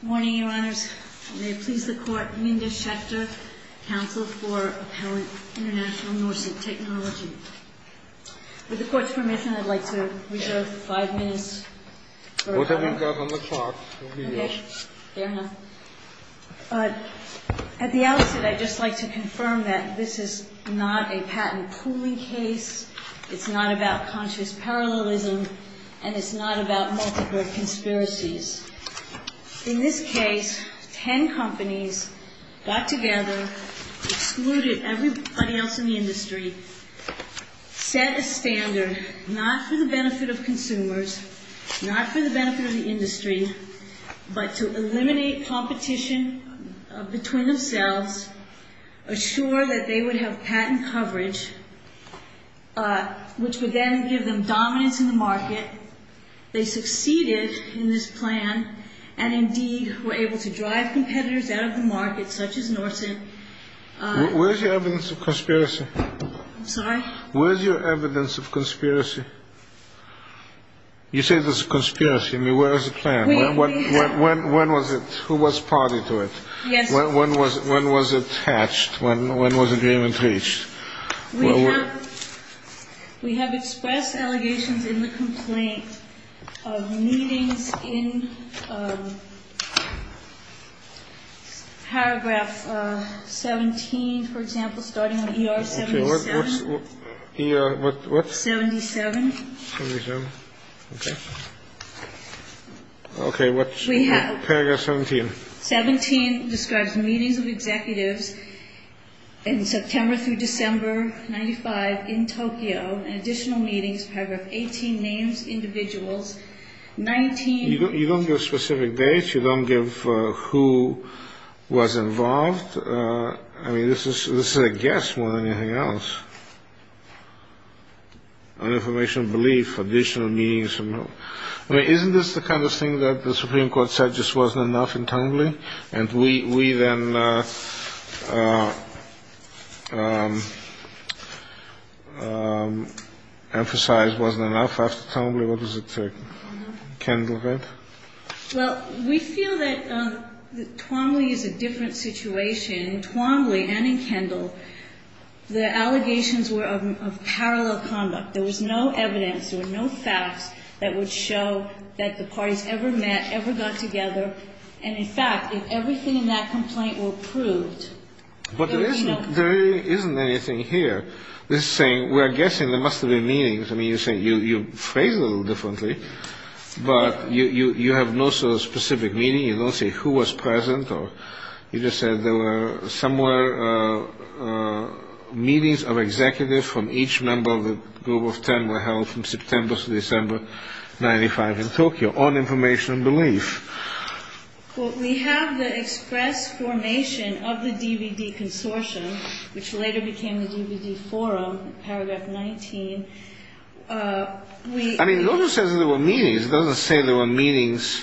Good morning, Your Honors. May it please the Court, Minda Schechter, Counsel for Appellant International Norcent Technology. With the Court's permission, I'd like to reserve five minutes. Whatever you've got on the clock. Okay. Fair enough. At the outset, I'd just like to confirm that this is not a patent pooling case. It's not about conscious parallelism. And it's not about multiple conspiracies. In this case, ten companies got together, excluded everybody else in the industry, set a standard not for the benefit of consumers, not for the benefit of the industry, but to eliminate competition between themselves, assure that they would have patent coverage, which would then give them dominance in the market. They succeeded in this plan and, indeed, were able to drive competitors out of the market, such as Norcent. Where's your evidence of conspiracy? I'm sorry? Where's your evidence of conspiracy? You say there's a conspiracy. I mean, where is the plan? When was it? Who was party to it? Yes. When was it hatched? When was agreement reached? We have expressed allegations in the complaint of meetings in paragraph 17, for example, starting with ER 77. Okay. What's ER what? 77. 77. Okay. Okay. What's paragraph 17? 17 describes meetings of executives in September through December, 1995, in Tokyo, and additional meetings, paragraph 18, names individuals. You don't give specific dates. You don't give who was involved. I mean, this is a guess more than anything else, an information belief, additional meetings. I mean, isn't this the kind of thing that the Supreme Court said just wasn't enough in Twombly, and we then emphasize wasn't enough after Twombly? What does it say? Kendall, right? Well, we feel that Twombly is a different situation. In Twombly and in Kendall, the allegations were of parallel conduct. There was no evidence. There were no facts that would show that the parties ever met, ever got together, and, in fact, if everything in that complaint were proved, there would be no complaint. But there isn't anything here. This is saying we're guessing there must have been meetings. I mean, you're saying you phrased it a little differently, but you have no sort of specific meeting. You don't say who was present, or you just said there were somewhere meetings of executives from each member of the group of ten were held from September to December 1995 in Tokyo on information belief. Well, we have the express formation of the DVD consortium, which later became the DVD forum, paragraph 19. I mean, no one says there were meetings. It doesn't say there were meetings.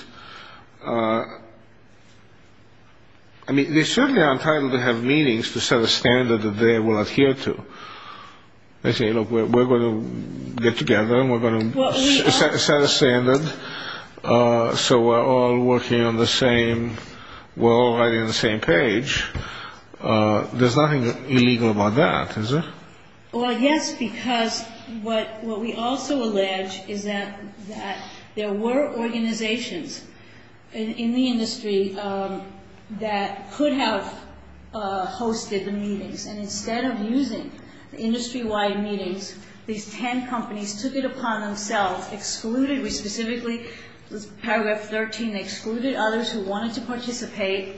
I mean, they certainly are entitled to have meetings to set a standard that they will adhere to. They say, look, we're going to get together and we're going to set a standard, so we're all working on the same – we're all writing on the same page. There's nothing illegal about that, is there? Well, yes, because what we also allege is that there were organizations in the industry that could have hosted the meetings, and instead of using the industry-wide meetings, these ten companies took it upon themselves, excluded – we specifically – paragraph 13, they excluded others who wanted to participate.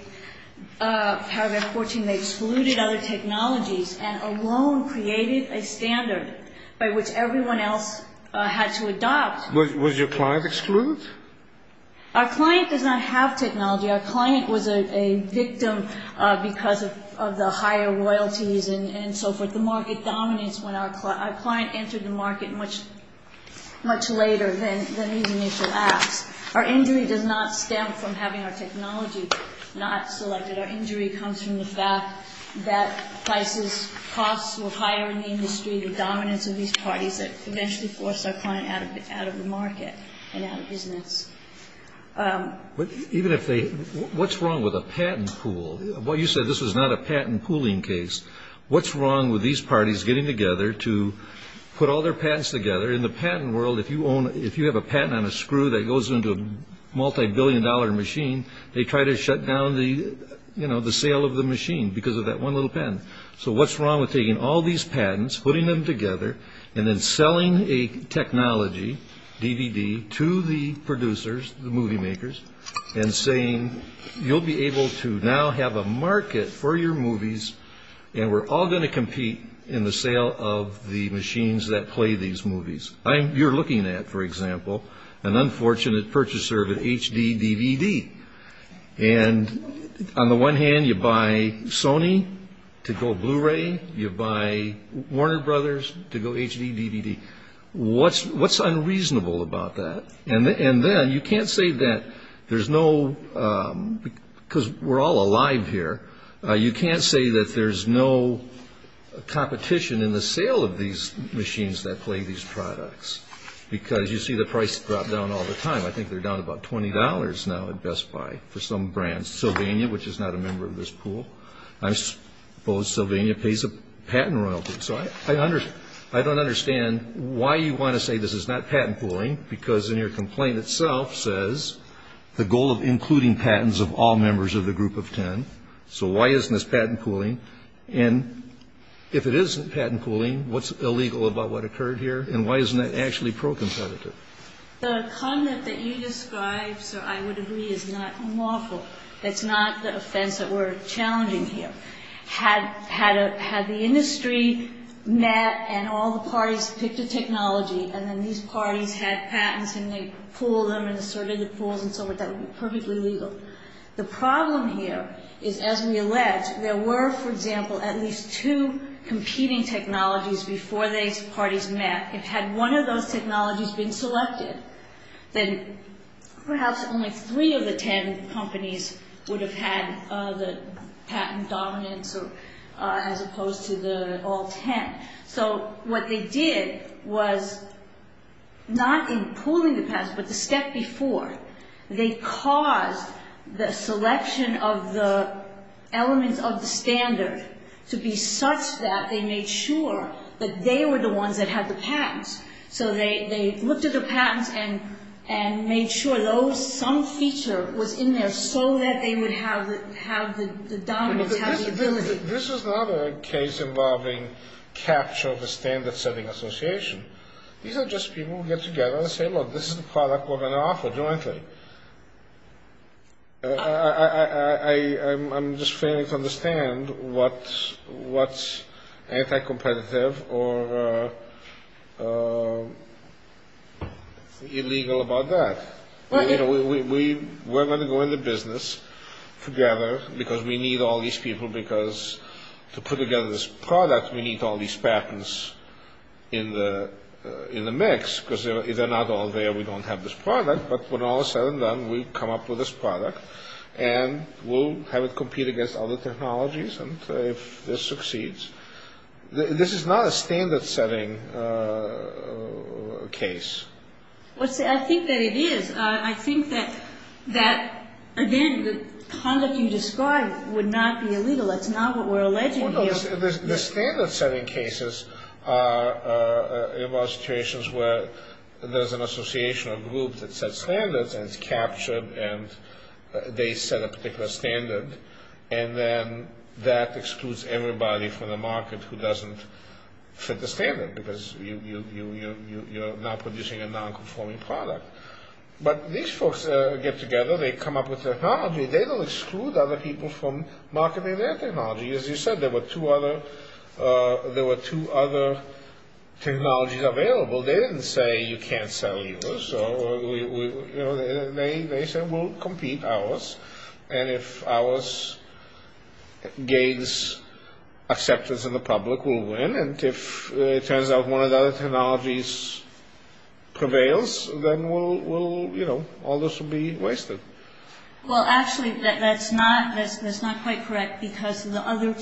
Paragraph 14, they excluded other technologies and alone created a standard by which everyone else had to adopt. Was your client excluded? Our client does not have technology. Our client was a victim because of the higher royalties and so forth. The market dominates when our client entered the market much later than these initial acts. Our injury does not stem from having our technology not selected. Our injury comes from the fact that prices, costs were higher in the industry, the dominance of these parties that eventually forced our client out of the market and out of business. But even if they – what's wrong with a patent pool? Well, you said this was not a patent pooling case. What's wrong with these parties getting together to put all their patents together? In the patent world, if you have a patent on a screw that goes into a multibillion-dollar machine, they try to shut down the sale of the machine because of that one little patent. So what's wrong with taking all these patents, putting them together, and then selling a technology, DVD, to the producers, the movie makers, and saying you'll be able to now have a market for your movies and we're all going to compete in the sale of the machines that play these movies? You're looking at, for example, an unfortunate purchaser of an HD DVD. And on the one hand, you buy Sony to go Blu-ray, you buy Warner Brothers to go HD DVD. What's unreasonable about that? And then you can't say that there's no – because we're all alive here, you can't say that there's no competition in the sale of these machines that play these products because you see the price drop down all the time. I think they're down about $20 now at Best Buy for some brand. Sylvania, which is not a member of this pool, I suppose Sylvania pays a patent royalty. So I don't understand why you want to say this is not patent pooling because in your complaint itself says the goal of including patents of all members of the group of 10. So why isn't this patent pooling? And if it isn't patent pooling, what's illegal about what occurred here? And why isn't that actually pro-competitive? The comment that you described, sir, I would agree is not unlawful. That's not the offense that we're challenging here. Had the industry met and all the parties picked a technology and then these parties had patents and they pooled them and asserted the pools and so forth, that would be perfectly legal. The problem here is, as we allege, there were, for example, at least two competing technologies before these parties met. If had one of those technologies been selected, then perhaps only three of the 10 companies would have had the patent dominance as opposed to all 10. So what they did was not in pooling the patents, but the step before they caused the selection of the elements of the standard to be such that they made sure that they were the ones that had the patents. So they looked at the patents and made sure some feature was in there so that they would have the dominance, have the ability. This is not a case involving capture of a standard-setting association. These are just people who get together and say, look, this is the product we're going to offer jointly. I'm just failing to understand what's anti-competitive or illegal about that. We're going to go into business together because we need all these people because to put together this product, we need all these patents in the mix because if they're not all there, we don't have this product. But when all is said and done, we come up with this product, and we'll have it compete against other technologies if this succeeds. This is not a standard-setting case. I think that it is. I think that, again, the conduct you described would not be illegal. That's not what we're alleging here. The standard-setting cases are about situations where there's an association or group that sets standards, and it's captured, and they set a particular standard, and then that excludes everybody from the market who doesn't fit the standard because you're not producing a non-conforming product. But these folks get together. They come up with technology. They don't exclude other people from marketing their technology. As you said, there were two other technologies available. They didn't say you can't sell yours. They said we'll compete ours, and if ours gains acceptance in the public, we'll win, and if it turns out one of the other technologies prevails, then all this will be wasted. Well, actually, that's not quite correct because the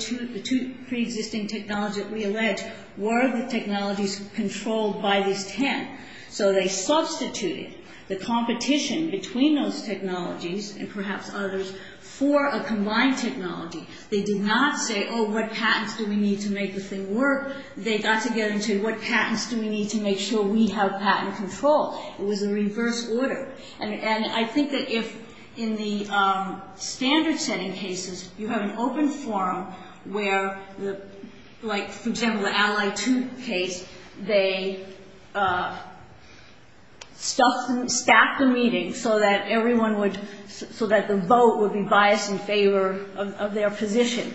two preexisting technologies that we allege were the technologies controlled by these ten. So they substituted the competition between those technologies and perhaps others for a combined technology. They did not say, oh, what patents do we need to make the thing work? They got together and said, what patents do we need to make sure we have patent control? It was a reverse order, and I think that if in the standard-setting cases, you have an open forum where, like, for example, the Ally 2 case, they staffed the meeting so that the vote would be biased in favor of their position,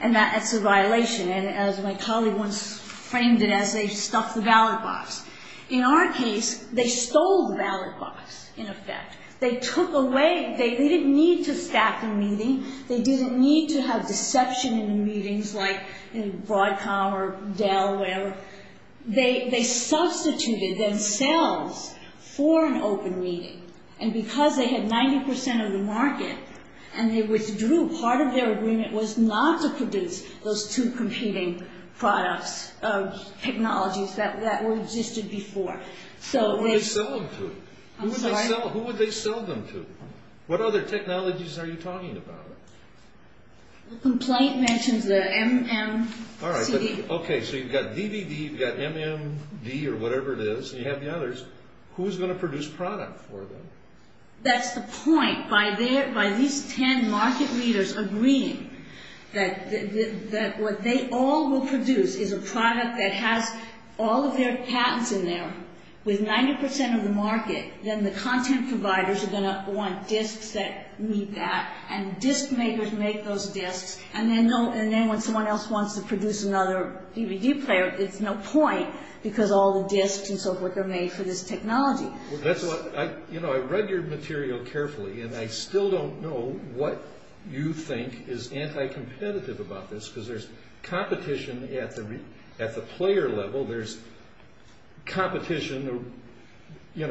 and that's a violation, and as my colleague once framed it, as they stuffed the ballot box. In our case, they stole the ballot box, in effect. They didn't need to staff the meeting. They didn't need to have deception in the meetings, like Broadcom or Dell or whatever. They substituted themselves for an open meeting, and because they had 90% of the market and they withdrew, part of their agreement was not to produce those two competing products of technologies that existed before. Who would they sell them to? I'm sorry? Who would they sell them to? What other technologies are you talking about? The complaint mentions the MMCD. Okay, so you've got DVD, you've got MMD or whatever it is, and you have the others. Who's going to produce product for them? That's the point. By these ten market leaders agreeing that what they all will produce is a product that has all of their patents in there with 90% of the market, then the content providers are going to want discs that meet that, and disc makers make those discs, and then when someone else wants to produce another DVD player, it's no point because all the discs and so forth are made for this technology. I read your material carefully, and I still don't know what you think is anti-competitive about this, because there's competition at the player level. There's competition at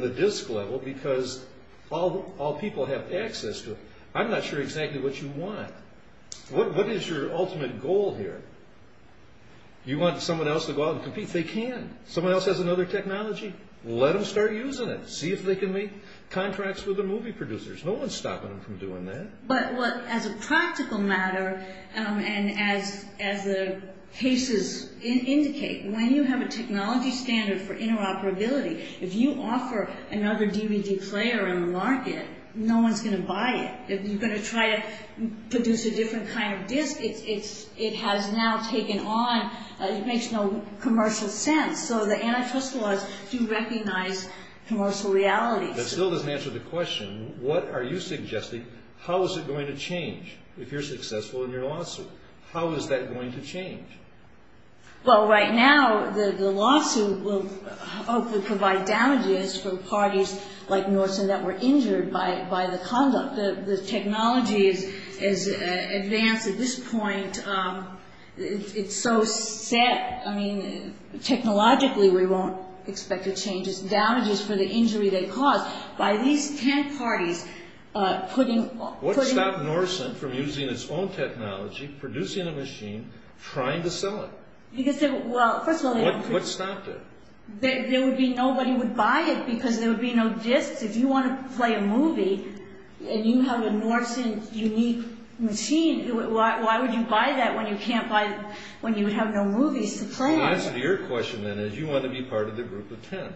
the disc level because all people have access to it. I'm not sure exactly what you want. What is your ultimate goal here? You want someone else to go out and compete. They can. Someone else has another technology. Let them start using it. See if they can make contracts with the movie producers. No one's stopping them from doing that. But as a practical matter and as the cases indicate, when you have a technology standard for interoperability, if you offer another DVD player in the market, no one's going to buy it. If you're going to try to produce a different kind of disc, it has now taken on, it makes no commercial sense, so the antitrust laws do recognize commercial realities. That still doesn't answer the question. What are you suggesting? How is it going to change if you're successful in your lawsuit? How is that going to change? Well, right now the lawsuit will hopefully provide damages for parties like Norton that were injured by the conduct. The technology is advanced at this point. It's so set. I mean, technologically we won't expect a change. It's damages for the injury they caused. What stopped Norton from using its own technology, producing a machine, trying to sell it? What stopped it? Nobody would buy it because there would be no discs. If you want to play a movie and you have a Norton unique machine, why would you buy that when you have no movies to play in? The answer to your question then is you want to be part of the group of ten.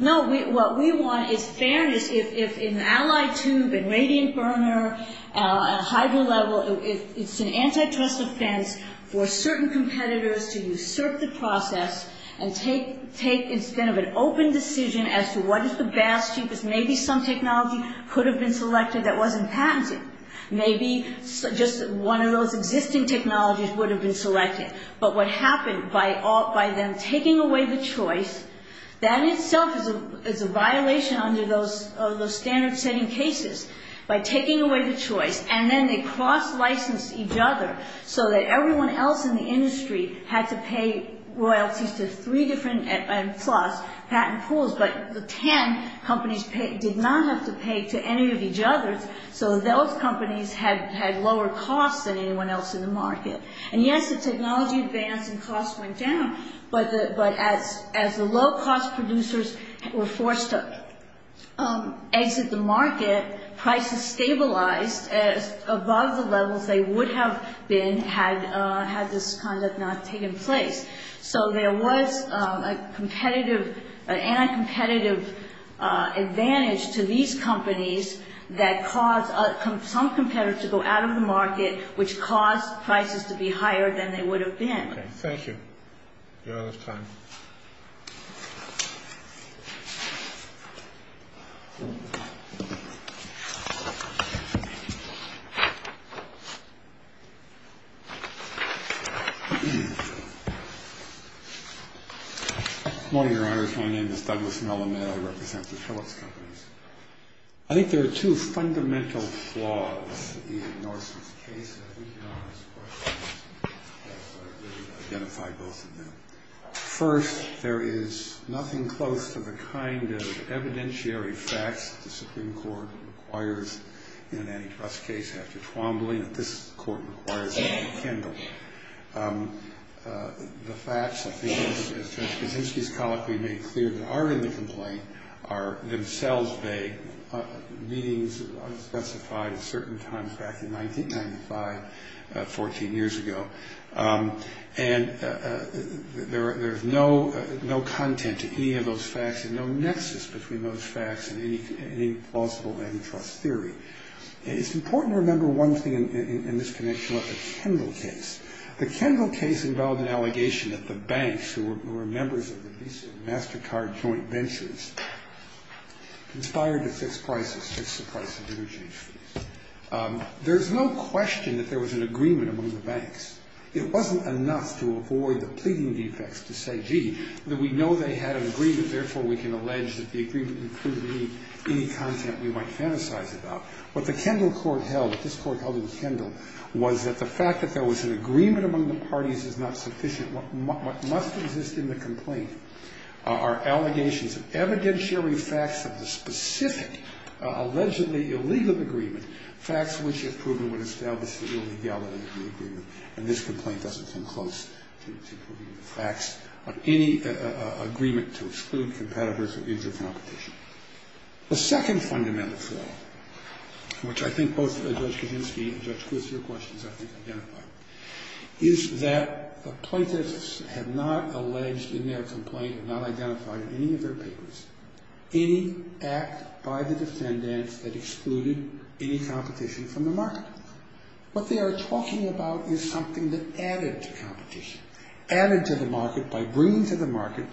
No, what we want is fairness. If an allied tube, a radiant burner, a hydro level, it's an antitrust offense for certain competitors to usurp the process and take instead of an open decision as to what is the best, cheapest, maybe some technology could have been selected that wasn't patented. Maybe just one of those existing technologies would have been selected. But what happened by them taking away the choice, that itself is a violation under those standard-setting cases. By taking away the choice and then they cross-licensed each other so that everyone else in the industry had to pay royalties to three different patent pools, but the ten companies did not have to pay to any of each other so those companies had lower costs than anyone else in the market. And yes, the technology advanced and costs went down, but as the low-cost producers were forced to exit the market, prices stabilized above the levels they would have been had this conduct not taken place. So there was an anti-competitive advantage to these companies that caused some competitors to go out of the market, which caused prices to be higher than they would have been. Okay. Thank you. We're out of time. Good morning, Your Honors. My name is Douglas Melamed. I represent the Phillips Companies. I think there are two fundamental flaws in Norseman's case that I think Your Honor's question has identified both of them. First, there is nothing close to the kind of evidentiary facts that the Supreme Court requires in an antitrust case after Twombly that this Court requires in McKindle. The facts, I think, as Judge Kaczynski's colloquy made clear, that are in the complaint are themselves vague, meanings unspecified at certain times back in 1995, 14 years ago. And there's no content to any of those facts and no nexus between those facts and any plausible antitrust theory. It's important to remember one thing in this connection with the Kendall case. The Kendall case involved an allegation that the banks, who were members of the Visa and MasterCard joint ventures, conspired to fix prices, fix the price of interchange fees. There's no question that there was an agreement among the banks. It wasn't enough to avoid the pleading defects to say, gee, we know they had an agreement, therefore we can allege that the agreement included any content we might fantasize about. What the Kendall court held, what this court held in Kendall, was that the fact that there was an agreement among the parties is not sufficient. What must exist in the complaint are allegations of evidentiary facts of the specific allegedly illegal agreement, facts which if proven would establish the illegality of the agreement. And this complaint doesn't come close to proving the facts of any agreement to exclude competitors or intercompetition. The second fundamental flaw, which I think both Judge Kuczynski and Judge Kutz, your questions I think identify, is that the plaintiffs have not alleged in their complaint, have not identified in any of their papers, any act by the defendants that excluded any competition from the market. What they are talking about is something that added to competition, added to the market by bringing to the market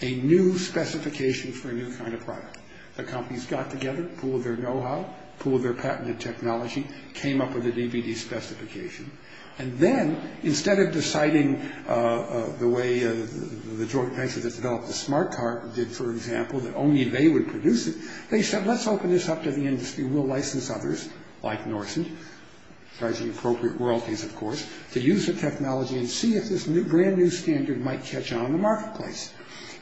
a new specification for a new kind of product. The companies got together, pooled their know-how, pooled their patented technology, came up with a DVD specification. And then, instead of deciding the way the joint venture that developed the smart car did, for example, that only they would produce it, they said, let's open this up to the industry, we'll license others, like Norson, charging appropriate royalties, of course, to use the technology and see if this brand new standard might catch on in the marketplace.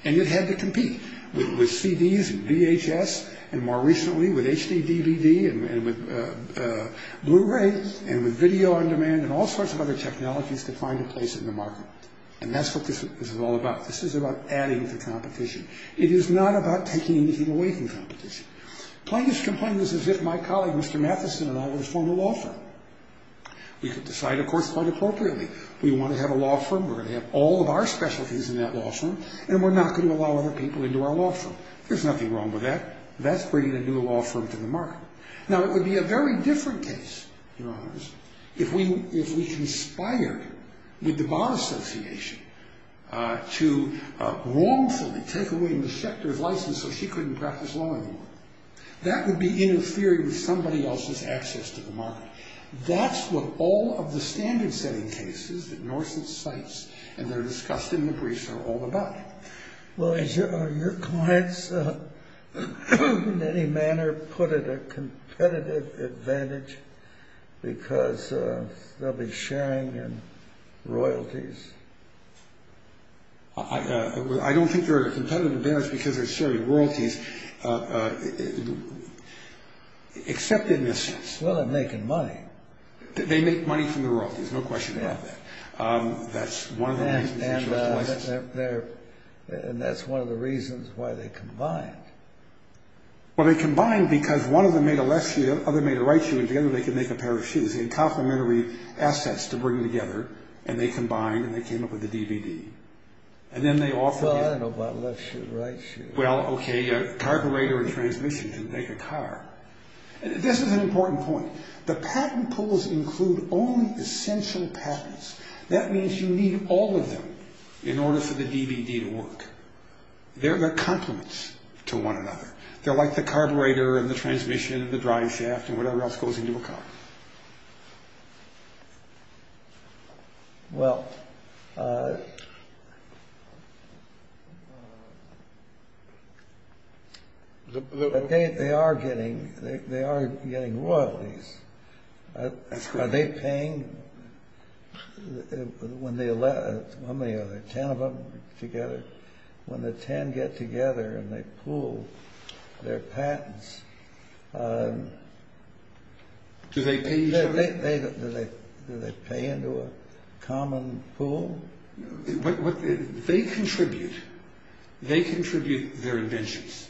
And it had to compete with CDs and VHS, and more recently with HD-DVD and with Blu-ray and with video on demand and all sorts of other technologies to find a place in the market. And that's what this is all about. This is about adding to competition. It is not about taking anything away from competition. Plaintiffs' complaint is as if my colleague, Mr. Matheson, and I were to form a law firm. We could decide, of course, quite appropriately, we want to have a law firm, we're going to have all of our specialties in that law firm, and we're not going to allow other people into our law firm. There's nothing wrong with that. That's bringing a new law firm to the market. Now, it would be a very different case, Your Honors, if we conspired with the Bar Association to wrongfully take away Ms. Schechter's license so she couldn't practice law anymore. That would be interfering with somebody else's access to the market. That's what all of the standard-setting cases that Norson cites and they're discussed in the briefs are all about. Well, are your clients, in any manner, put at a competitive advantage because they'll be sharing in royalties? I don't think they're at a competitive advantage because they're sharing royalties, except in a sense. Well, they're making money. They make money from the royalties, no question about that. That's one of the reasons they chose the license. And that's one of the reasons why they combined. Well, they combined because one of them made a left shoe, the other made a right shoe, and together they could make a pair of shoes. They had complementary assets to bring together, and they combined, and they came up with the DVD. Well, I don't know about left shoe, right shoe. Well, okay, a carburetor and transmission to make a car. This is an important point. The patent pools include only essential patents. That means you need all of them in order for the DVD to work. They're the complements to one another. They're like the carburetor and the transmission and the driveshaft and whatever else goes into a car. Well, they are getting royalties. That's correct. Are they paying? How many are there, ten of them together? When the ten get together and they pool their patents... Do they pay each other? Do they pay into a common pool? They contribute. They contribute their inventions.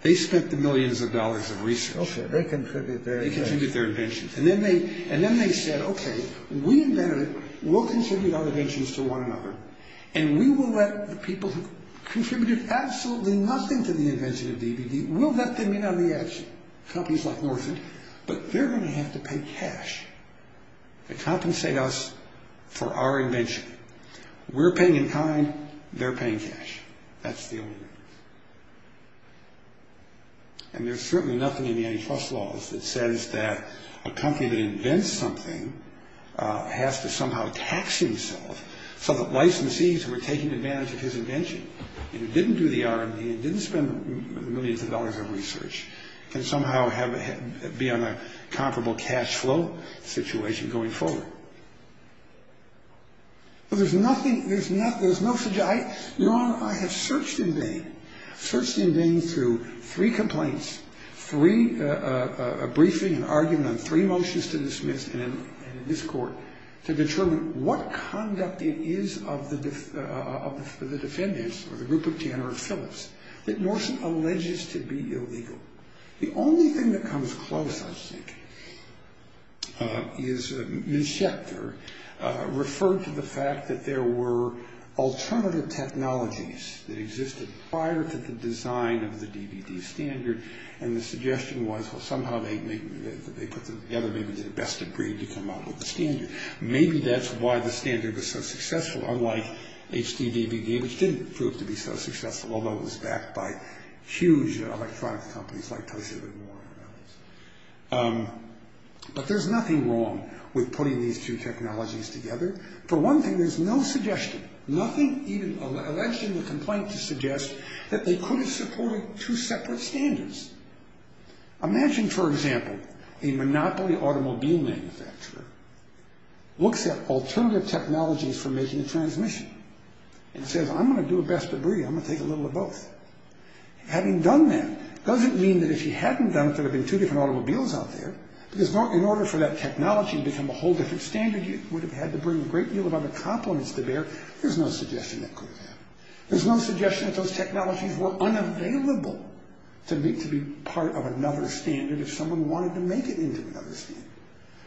They spent the millions of dollars of research. Okay, they contribute their inventions. They contribute their inventions. And then they said, okay, we invented it. We'll contribute our inventions to one another, and we will let the people who contributed absolutely nothing to the invention of DVD, we'll let them in on the action, companies like Norfolk, but they're going to have to pay cash to compensate us for our invention. We're paying in kind. They're paying cash. That's the only way. And there's certainly nothing in the antitrust laws that says that a company that invents something has to somehow tax himself so that licensees who are taking advantage of his invention and who didn't do the R&D and didn't spend millions of dollars of research can somehow be on a comparable cash flow situation going forward. Well, there's nothing, there's no, there's no, Your Honor, I have searched in vain, searched in vain through three complaints, three, a briefing, an argument on three motions to dismiss in this court to determine what conduct it is of the defendants or the group of Tanner or Phillips that Norton alleges to be illegal. The only thing that comes close, I think, is Mischector referred to the fact that there were alternative technologies that existed prior to the design of the DVD standard and the suggestion was, well, somehow they put them together, maybe they best agreed to come up with the standard. Maybe that's why the standard was so successful, unlike HD DVD, which didn't prove to be so successful, although it was backed by huge electronic companies like Toshiba and Warren and others. But there's nothing wrong with putting these two technologies together. For one thing, there's no suggestion, nothing even alleged in the complaint to suggest that they could have supported two separate standards. Imagine, for example, a monopoly automobile manufacturer looks at alternative technologies for making a transmission and says, I'm going to do the best I can, I'm going to take a little of both. Having done that doesn't mean that if you hadn't done it, there would have been two different automobiles out there, because in order for that technology to become a whole different standard, you would have had to bring a great deal of other complements to bear. There's no suggestion that could have happened. There's no suggestion that those technologies were unavailable to be part of another standard if someone wanted to make it into another standard.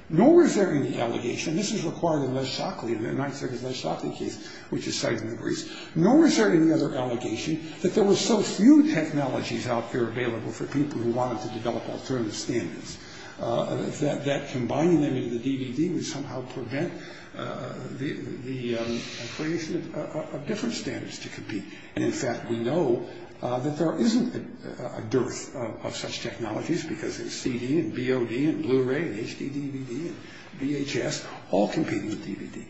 Nor is there any allegation, and this is required in Les Shockley, in the 9th Circuit Les Shockley case, which is cited in the briefs. Nor is there any other allegation that there were so few technologies out there available for people who wanted to develop alternative standards that combining them into the DVD would somehow prevent the creation of different standards to compete. And in fact, we know that there isn't a dearth of such technologies because there's CD and BOD and Blu-ray and HD-DVD and VHS all competing with DVD.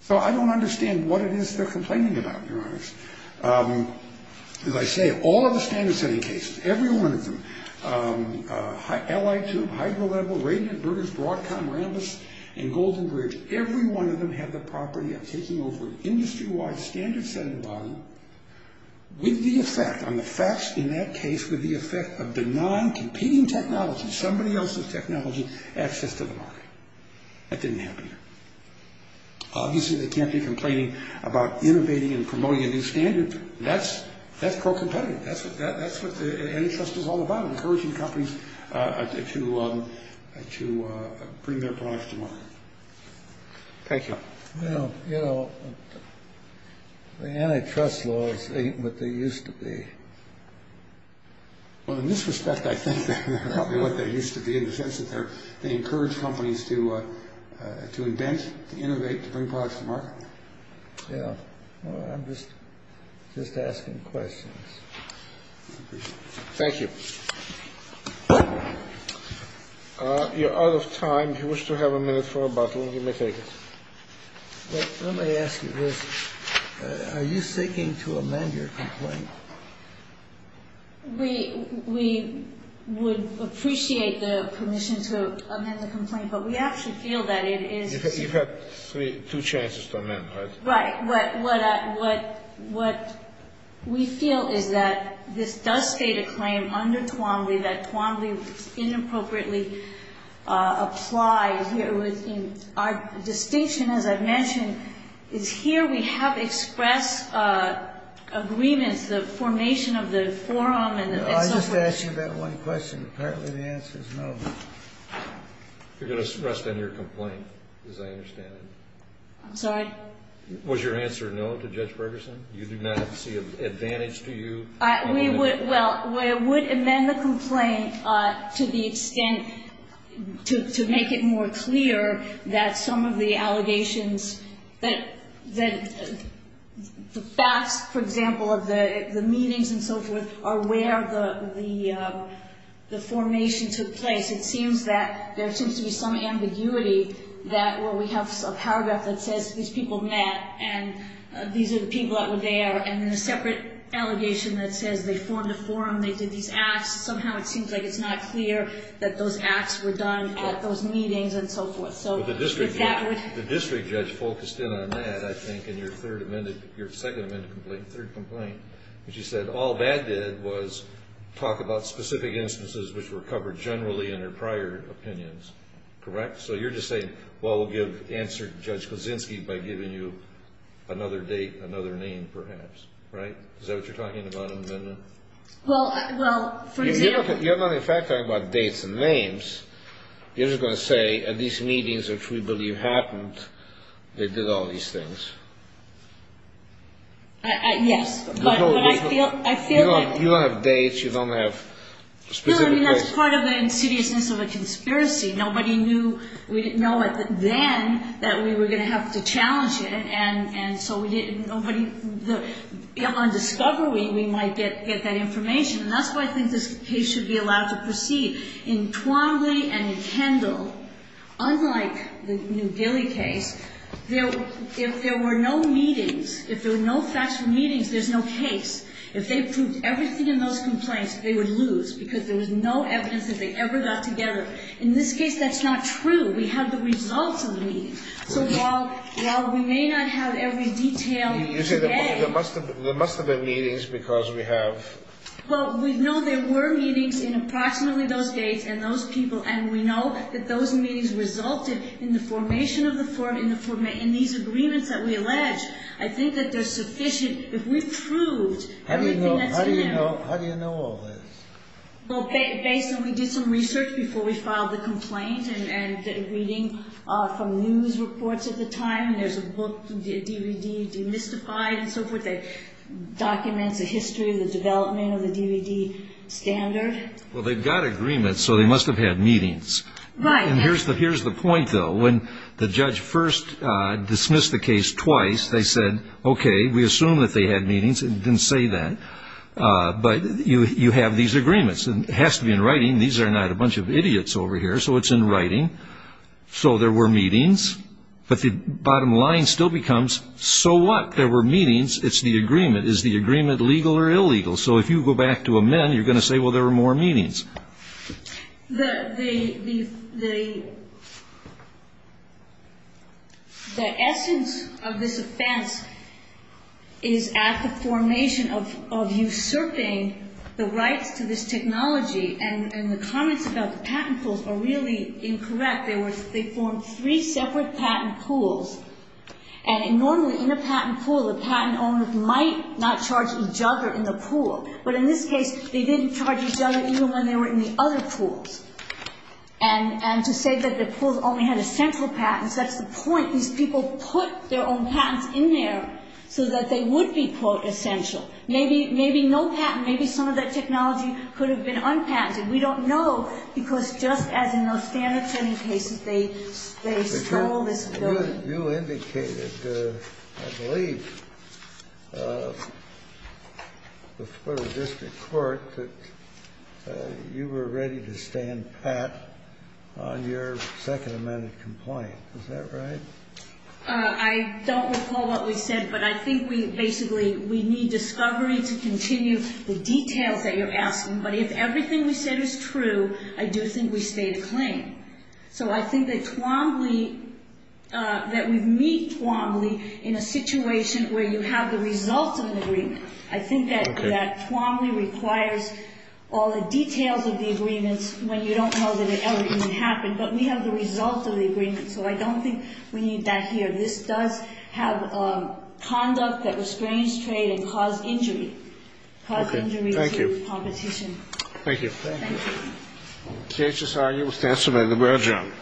So I don't understand what it is they're complaining about, to be honest. As I say, all of the standard-setting cases, every one of them, LI2, Hydro-Level, Radiant, Brutus, Broadcom, Rambus, and Golden Bridge, every one of them have the property of taking over an industry-wide standard-setting body with the effect, on the facts in that case, with the effect of the non-competing technology, somebody else's technology, access to the market. That didn't happen here. Obviously, they can't be complaining about innovating and promoting a new standard. That's pro-competitive. That's what the antitrust is all about, encouraging companies to bring their products to market. Thank you. Well, you know, the antitrust laws ain't what they used to be. Well, in this respect, I think they're probably what they used to be in the sense that they encourage companies to invent, to innovate, to bring products to market. Yeah. Well, I'm just asking questions. Thank you. You're out of time. If you wish to have a minute for rebuttal, you may take it. Let me ask you this. Are you seeking to amend your complaint? We would appreciate the permission to amend the complaint, but we actually feel that it is the same. You've had two chances to amend, right? Right. What we feel is that this does state a claim under Twombly that Twombly inappropriately applies. Our distinction, as I've mentioned, is here we have expressed agreements, the formation of the forum. I just asked you that one question. Apparently, the answer is no. You're going to rest on your complaint, as I understand it. I'm sorry? Was your answer no to Judge Ferguson? You do not see an advantage to you? Well, we would amend the complaint to the extent to make it more clear that some of the allegations, that the facts, for example, of the meetings and so forth, are where the formation took place. It seems that there seems to be some ambiguity that where we have a paragraph that says these people met and these are the people that were there, and then a separate allegation that says they formed a forum, they did these acts, somehow it seems like it's not clear that those acts were done at those meetings and so forth. The district judge focused in on that, I think, in your second amendment complaint, third complaint. And she said all that did was talk about specific instances which were covered generally in her prior opinions. Correct? So you're just saying, well, we'll answer Judge Kozinski by giving you another date, another name, perhaps. Right? Is that what you're talking about in the amendment? Well, for example. You're not, in fact, talking about dates and names. You're just going to say at these meetings, which we believe happened, they did all these things. Yes. But I feel that. You don't have dates. You don't have specific dates. No, I mean, that's part of the insidiousness of a conspiracy. Nobody knew. We didn't know then that we were going to have to challenge it, and so we didn't. On discovery, we might get that information. And that's why I think this case should be allowed to proceed. In Twombly and Kendall, unlike the New Delhi case, if there were no meetings, if there were no factual meetings, there's no case. If they proved everything in those complaints, they would lose because there was no evidence that they ever got together. In this case, that's not true. We have the results of the meetings. So while we may not have every detail today. You say there must have been meetings because we have. Well, we know there were meetings in approximately those dates and those people. And we know that those meetings resulted in the formation of these agreements that we allege. I think that they're sufficient. If we proved everything that's in there. How do you know all this? Well, basically, we did some research before we filed the complaint. And reading from news reports at the time, there's a book, DVD, demystified, and so forth. It documents the history, the development of the DVD standard. Well, they've got agreements, so they must have had meetings. Right. And here's the point, though. When the judge first dismissed the case twice, they said, okay, we assume that they had meetings. It didn't say that. But you have these agreements. It has to be in writing. These are not a bunch of idiots over here. So it's in writing. So there were meetings. But the bottom line still becomes, so what? There were meetings. It's the agreement. Is the agreement legal or illegal? So if you go back to amend, you're going to say, well, there were more meetings. The essence of this offense is at the formation of usurping the rights to this technology. And the comments about the patent pools are really incorrect. They formed three separate patent pools. And normally in a patent pool, the patent owner might not charge each other in the pool. But in this case, they didn't charge each other even when they were in the other pools. And to say that the pools only had essential patents, that's the point. These people put their own patents in there so that they would be, quote, essential. Maybe no patent, maybe some of that technology could have been unpatented. We don't know because just as in those standard training cases, they stole this ability. You indicated, I believe, before the district court that you were ready to stand pat on your second amended complaint. Is that right? I don't recall what we said. But I think we basically, we need discovery to continue the details that you're asking. But if everything we said is true, I do think we stay the claim. So I think that Tuamli, that we meet Tuamli in a situation where you have the results of an agreement. I think that Tuamli requires all the details of the agreements when you don't know that it ever even happened. But we have the results of the agreement. So I don't think we need that here. This does have conduct that restrains trade and caused injury. Okay. Thank you. Thank you. Thank you. Can't just argue with the answer by the bell, John.